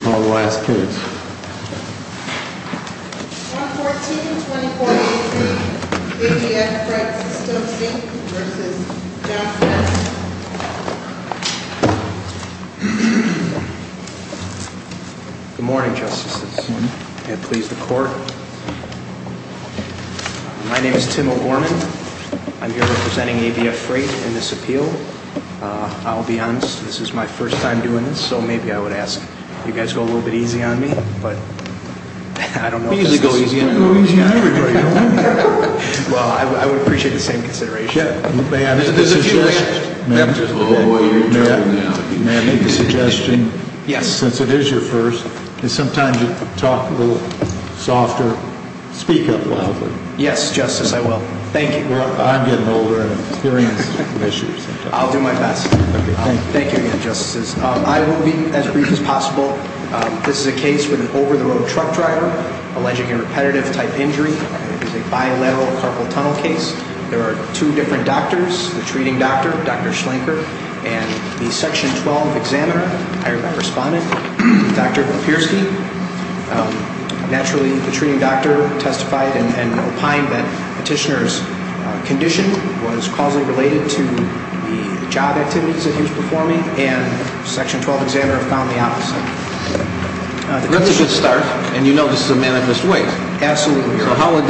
Good morning, Justices. May it please the Court. My name is Tim O'Gorman. I'm here representing ABF Freight in this appeal. I'll be honest, this is my first time doing this, so maybe I would ask you guys to go a little bit easy on me, but I don't know. We usually go easy on everybody, don't we? Well, I would appreciate the same consideration. May I make a suggestion? Yes. Since it is your first, can sometimes you talk a little softer, speak up loudly? Yes, Justice, I will. Thank you. I'm getting older and I'm experiencing issues. I'll do my best. Thank you again, Justices. I will be as brief as possible. This is a case with an over-the-road truck driver alleging a repetitive-type injury. It is a bilateral carpal tunnel case. There are two different doctors, the treating doctor, Dr. Schlenker, and the Section 12 examiner, hired by Respondent, Dr. Papierski. Naturally, the treating doctor testified and the Section 12 examiner found the opposite. Let me just start, and you know this is a manifest way. Absolutely, Your Honor.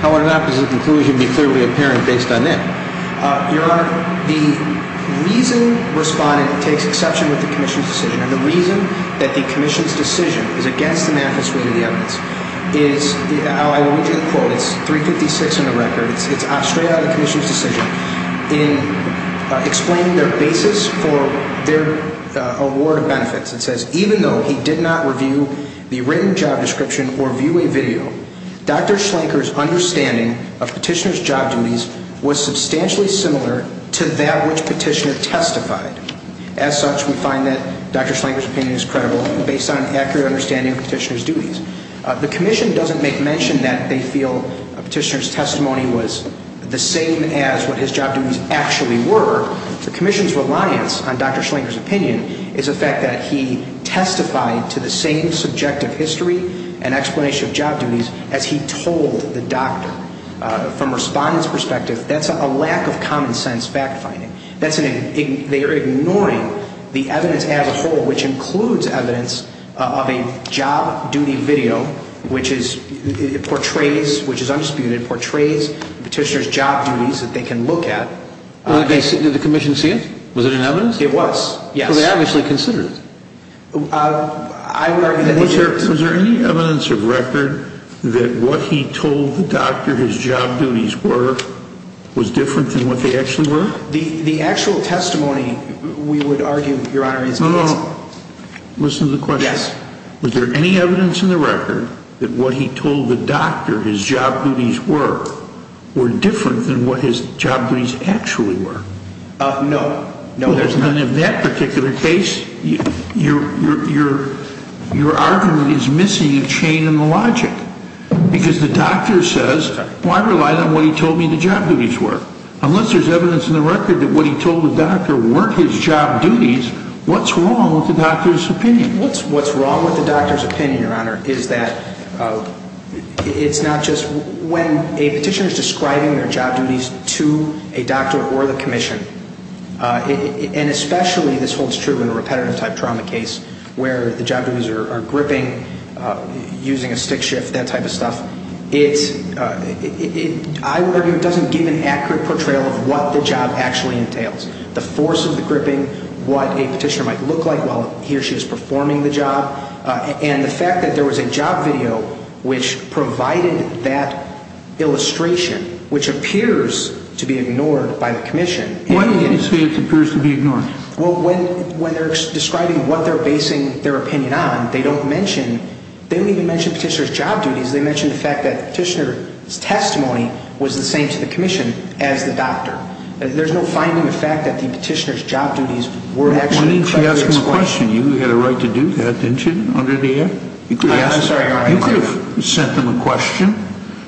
How would an opposite conclusion be clearly apparent based on that? Your Honor, the reason Respondent takes exception with the Commission's decision and the reason that the Commission's decision is against the manifest way of the evidence is, I will read you the quote, it's 356 in the record, it's straight out of the Commission's decision in explaining their basis for their award of benefits. It says, even though he did not review the written job description or view a video, Dr. Schlenker's understanding of Petitioner's job duties was substantially similar to that which Petitioner testified. As such, we find that Dr. Schlenker's opinion is credible based on an accurate understanding of Petitioner's duties. The Commission doesn't make mention that they feel Petitioner's testimony was the same as what his job duties actually were. The Commission's reliance on Dr. Schlenker's opinion is the fact that he testified to the same subjective history and explanation of job duties as he told the doctor. From Respondent's perspective, that's a lack of common sense fact finding. They are ignoring the evidence as a whole, which includes evidence of a job duty video, which is, portrays, which is undisputed, portrays Petitioner's job duties that they can look at. Did the Commission see it? Was it in evidence? It was, yes. So they obviously considered it? I would argue that they did. Was there any evidence of record that what he told the doctor his job duties were was different than what they actually were? The actual testimony, we would argue, Your Honor, is that it's... No, no, no. Listen to the evidence in the record that what he told the doctor his job duties were were different than what his job duties actually were. Uh, no. No, there's none. In that particular case, your argument is missing a chain in the logic. Because the doctor says, well, I relied on what he told me the job duties were. Unless there's evidence in the record that what he told the doctor weren't his job duties, what's wrong with the doctor's opinion? What's wrong with the doctor's opinion, Your Honor, is that it's not just... When a Petitioner's describing their job duties to a doctor or the Commission, and especially this holds true in a repetitive type trauma case where the job duties are gripping, using a stick shift, that type of stuff, it's... I would argue it doesn't give an accurate portrayal of what the job actually entails. The force of the gripping, what a Petitioner might look like while he or she is performing the job, and the fact that there was a job video which provided that illustration, which appears to be ignored by the Commission. Why do you say it appears to be ignored? Well, when they're describing what they're basing their opinion on, they don't mention... They don't even mention Petitioner's job duties. They mention the fact that Petitioner's testimony was the same to the Commission as the doctor. There's no finding of fact that the Petitioner's job duties were actually... Why didn't you ask them a question? You had a right to do that, didn't you, under the Act? You could have sent them a question,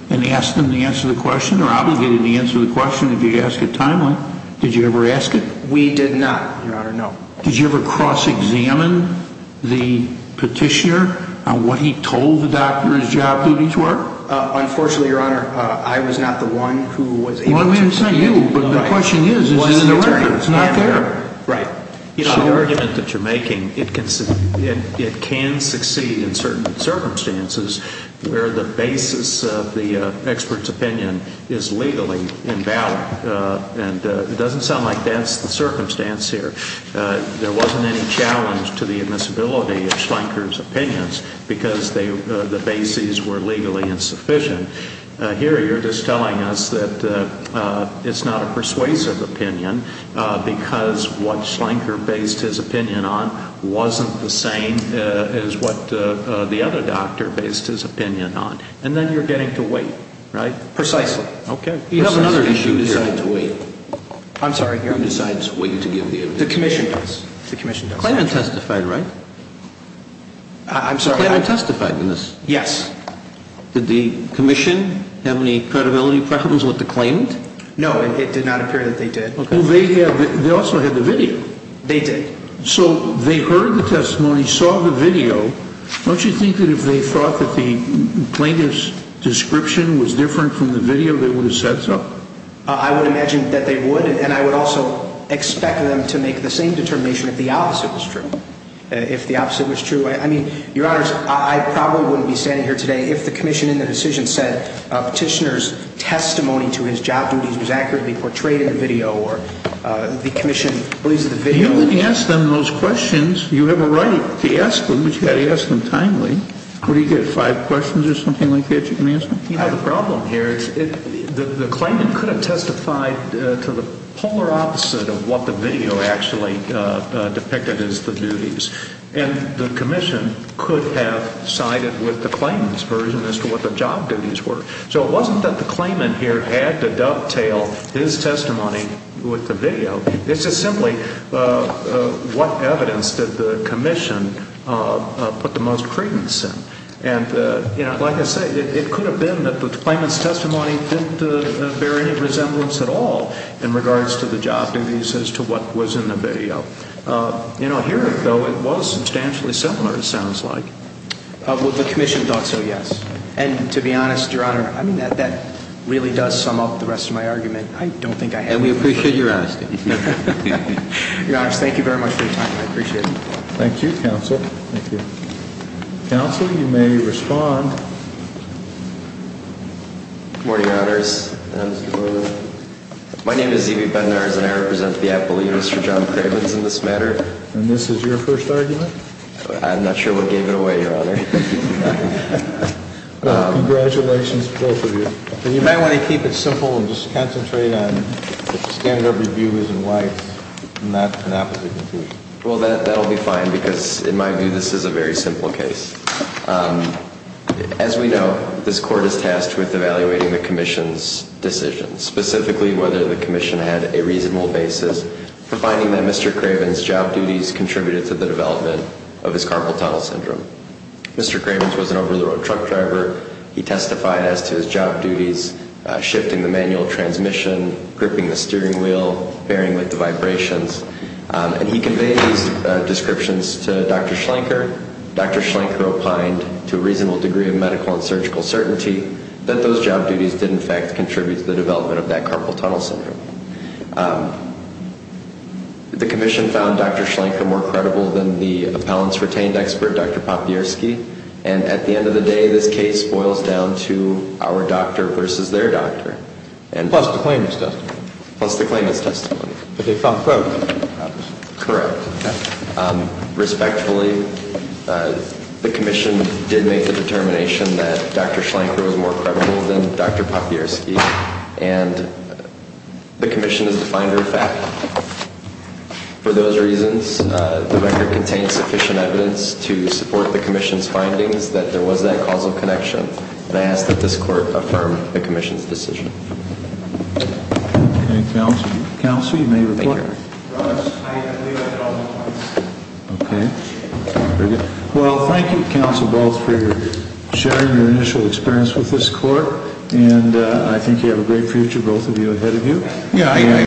and asked them to answer the question, or obligated to answer the question if you asked it timely. Did you ever ask it? We did not, Your Honor, no. Did you ever cross-examine the Petitioner on what he told the doctor his job duties were? Unfortunately, Your Honor, I was not the one who was able to... Well, I mean, it's not you, but the question is, is it the record? It's not there. Right. You know, the argument that you're making, it can succeed in certain circumstances where the basis of the expert's opinion is legally invalid. And it doesn't sound like that's the circumstance here. There wasn't any challenge to the admissibility of Schlenker's opinions because the bases were legally insufficient. Here, you're just telling us that it's not a persuasive opinion because what Schlenker based his opinion on wasn't the same as what the other doctor based his opinion on. And then you're getting to wait, right? Precisely. Okay. You have another issue here. Who decides to wait? I'm sorry, Your Honor. Who decides to wait to give the evidence? The Commission does. The Commission does. Clayton testified, right? I'm sorry, I... Clayton testified in Yes. Did the Commission have any credibility preferences with the claimant? No, it did not appear that they did. Okay. Well, they also had the video. They did. So they heard the testimony, saw the video. Don't you think that if they thought that the claimant's description was different from the video, they would have said so? I would imagine that they would, and I would also expect them to make the same determination if the opposite was true. If I wouldn't be standing here today, if the Commission in the decision said Petitioner's testimony to his job duties was accurately portrayed in the video or the Commission believes that the video... You wouldn't ask them those questions. You have a right to ask them, but you've got to ask them timely. What do you get, five questions or something like that you can ask them? You know, the problem here is the claimant could have testified to the polar opposite of what the video actually depicted as the duties. And the Commission could have sided with the claimant's version as to what the job duties were. So it wasn't that the claimant here had to dovetail his testimony with the video. It's just simply what evidence did the Commission put the most credence in? And, you know, like I say, it could have been that the claimant's testimony didn't bear any resemblance at all in regards to the job duties as to what was in the video. You know, here, though, it was substantially dissimilar, it sounds like. Well, the Commission thought so, yes. And to be honest, Your Honor, I mean, that really does sum up the rest of my argument. I don't think I have... And we appreciate your honesty. Your Honor, thank you very much for your time. I appreciate it. Thank you, Counsel. Counsel, you may respond. Good morning, Your Honors. My name is E.B. Bednarz and I represent the Appellate Units for John Cravens in this matter. And this is your first argument? I'm not sure what gave it away, Your Honor. Congratulations to both of you. And you might want to keep it simple and just concentrate on what the standard of review is and why it's not an appellate conclusion. Well, that'll be fine because in my view, this is a very simple case. As we know, this Court is tasked with evaluating the Commission's decisions, specifically whether the Commission had a reasonable basis for finding that Mr. Cravens' job duties contributed to the development of his carpal tunnel syndrome. Mr. Cravens was an over-the-road truck driver. He testified as to his job duties shifting the manual transmission, gripping the steering wheel, bearing with the vibrations. And he conveyed these descriptions to Dr. Schlenker. Dr. Schlenker opined, to a reasonable degree of medical and surgical certainty, that those job duties did in fact contribute to the development of that carpal tunnel syndrome. The Commission found Dr. Schlenker more credible than the appellant's retained expert, Dr. Popierski. And at the end of the day, this case boils down to our doctor versus their doctor. Plus the claimant's testimony. Plus the claimant's testimony. But they found both. Correct. Respectfully, the Commission did make the determination that Dr. Schlenker was more credible than Dr. Popierski. And the Commission has defined her fact. For those reasons, the record contains sufficient evidence to support the Commission's findings that there was that causal connection. And I ask that this Court affirm the Commission's decision. Thank you. Counsel, you may report. Well, thank you, counsel, both for sharing your initial experience with this Court. And I think you have a great future, both of you, ahead of you.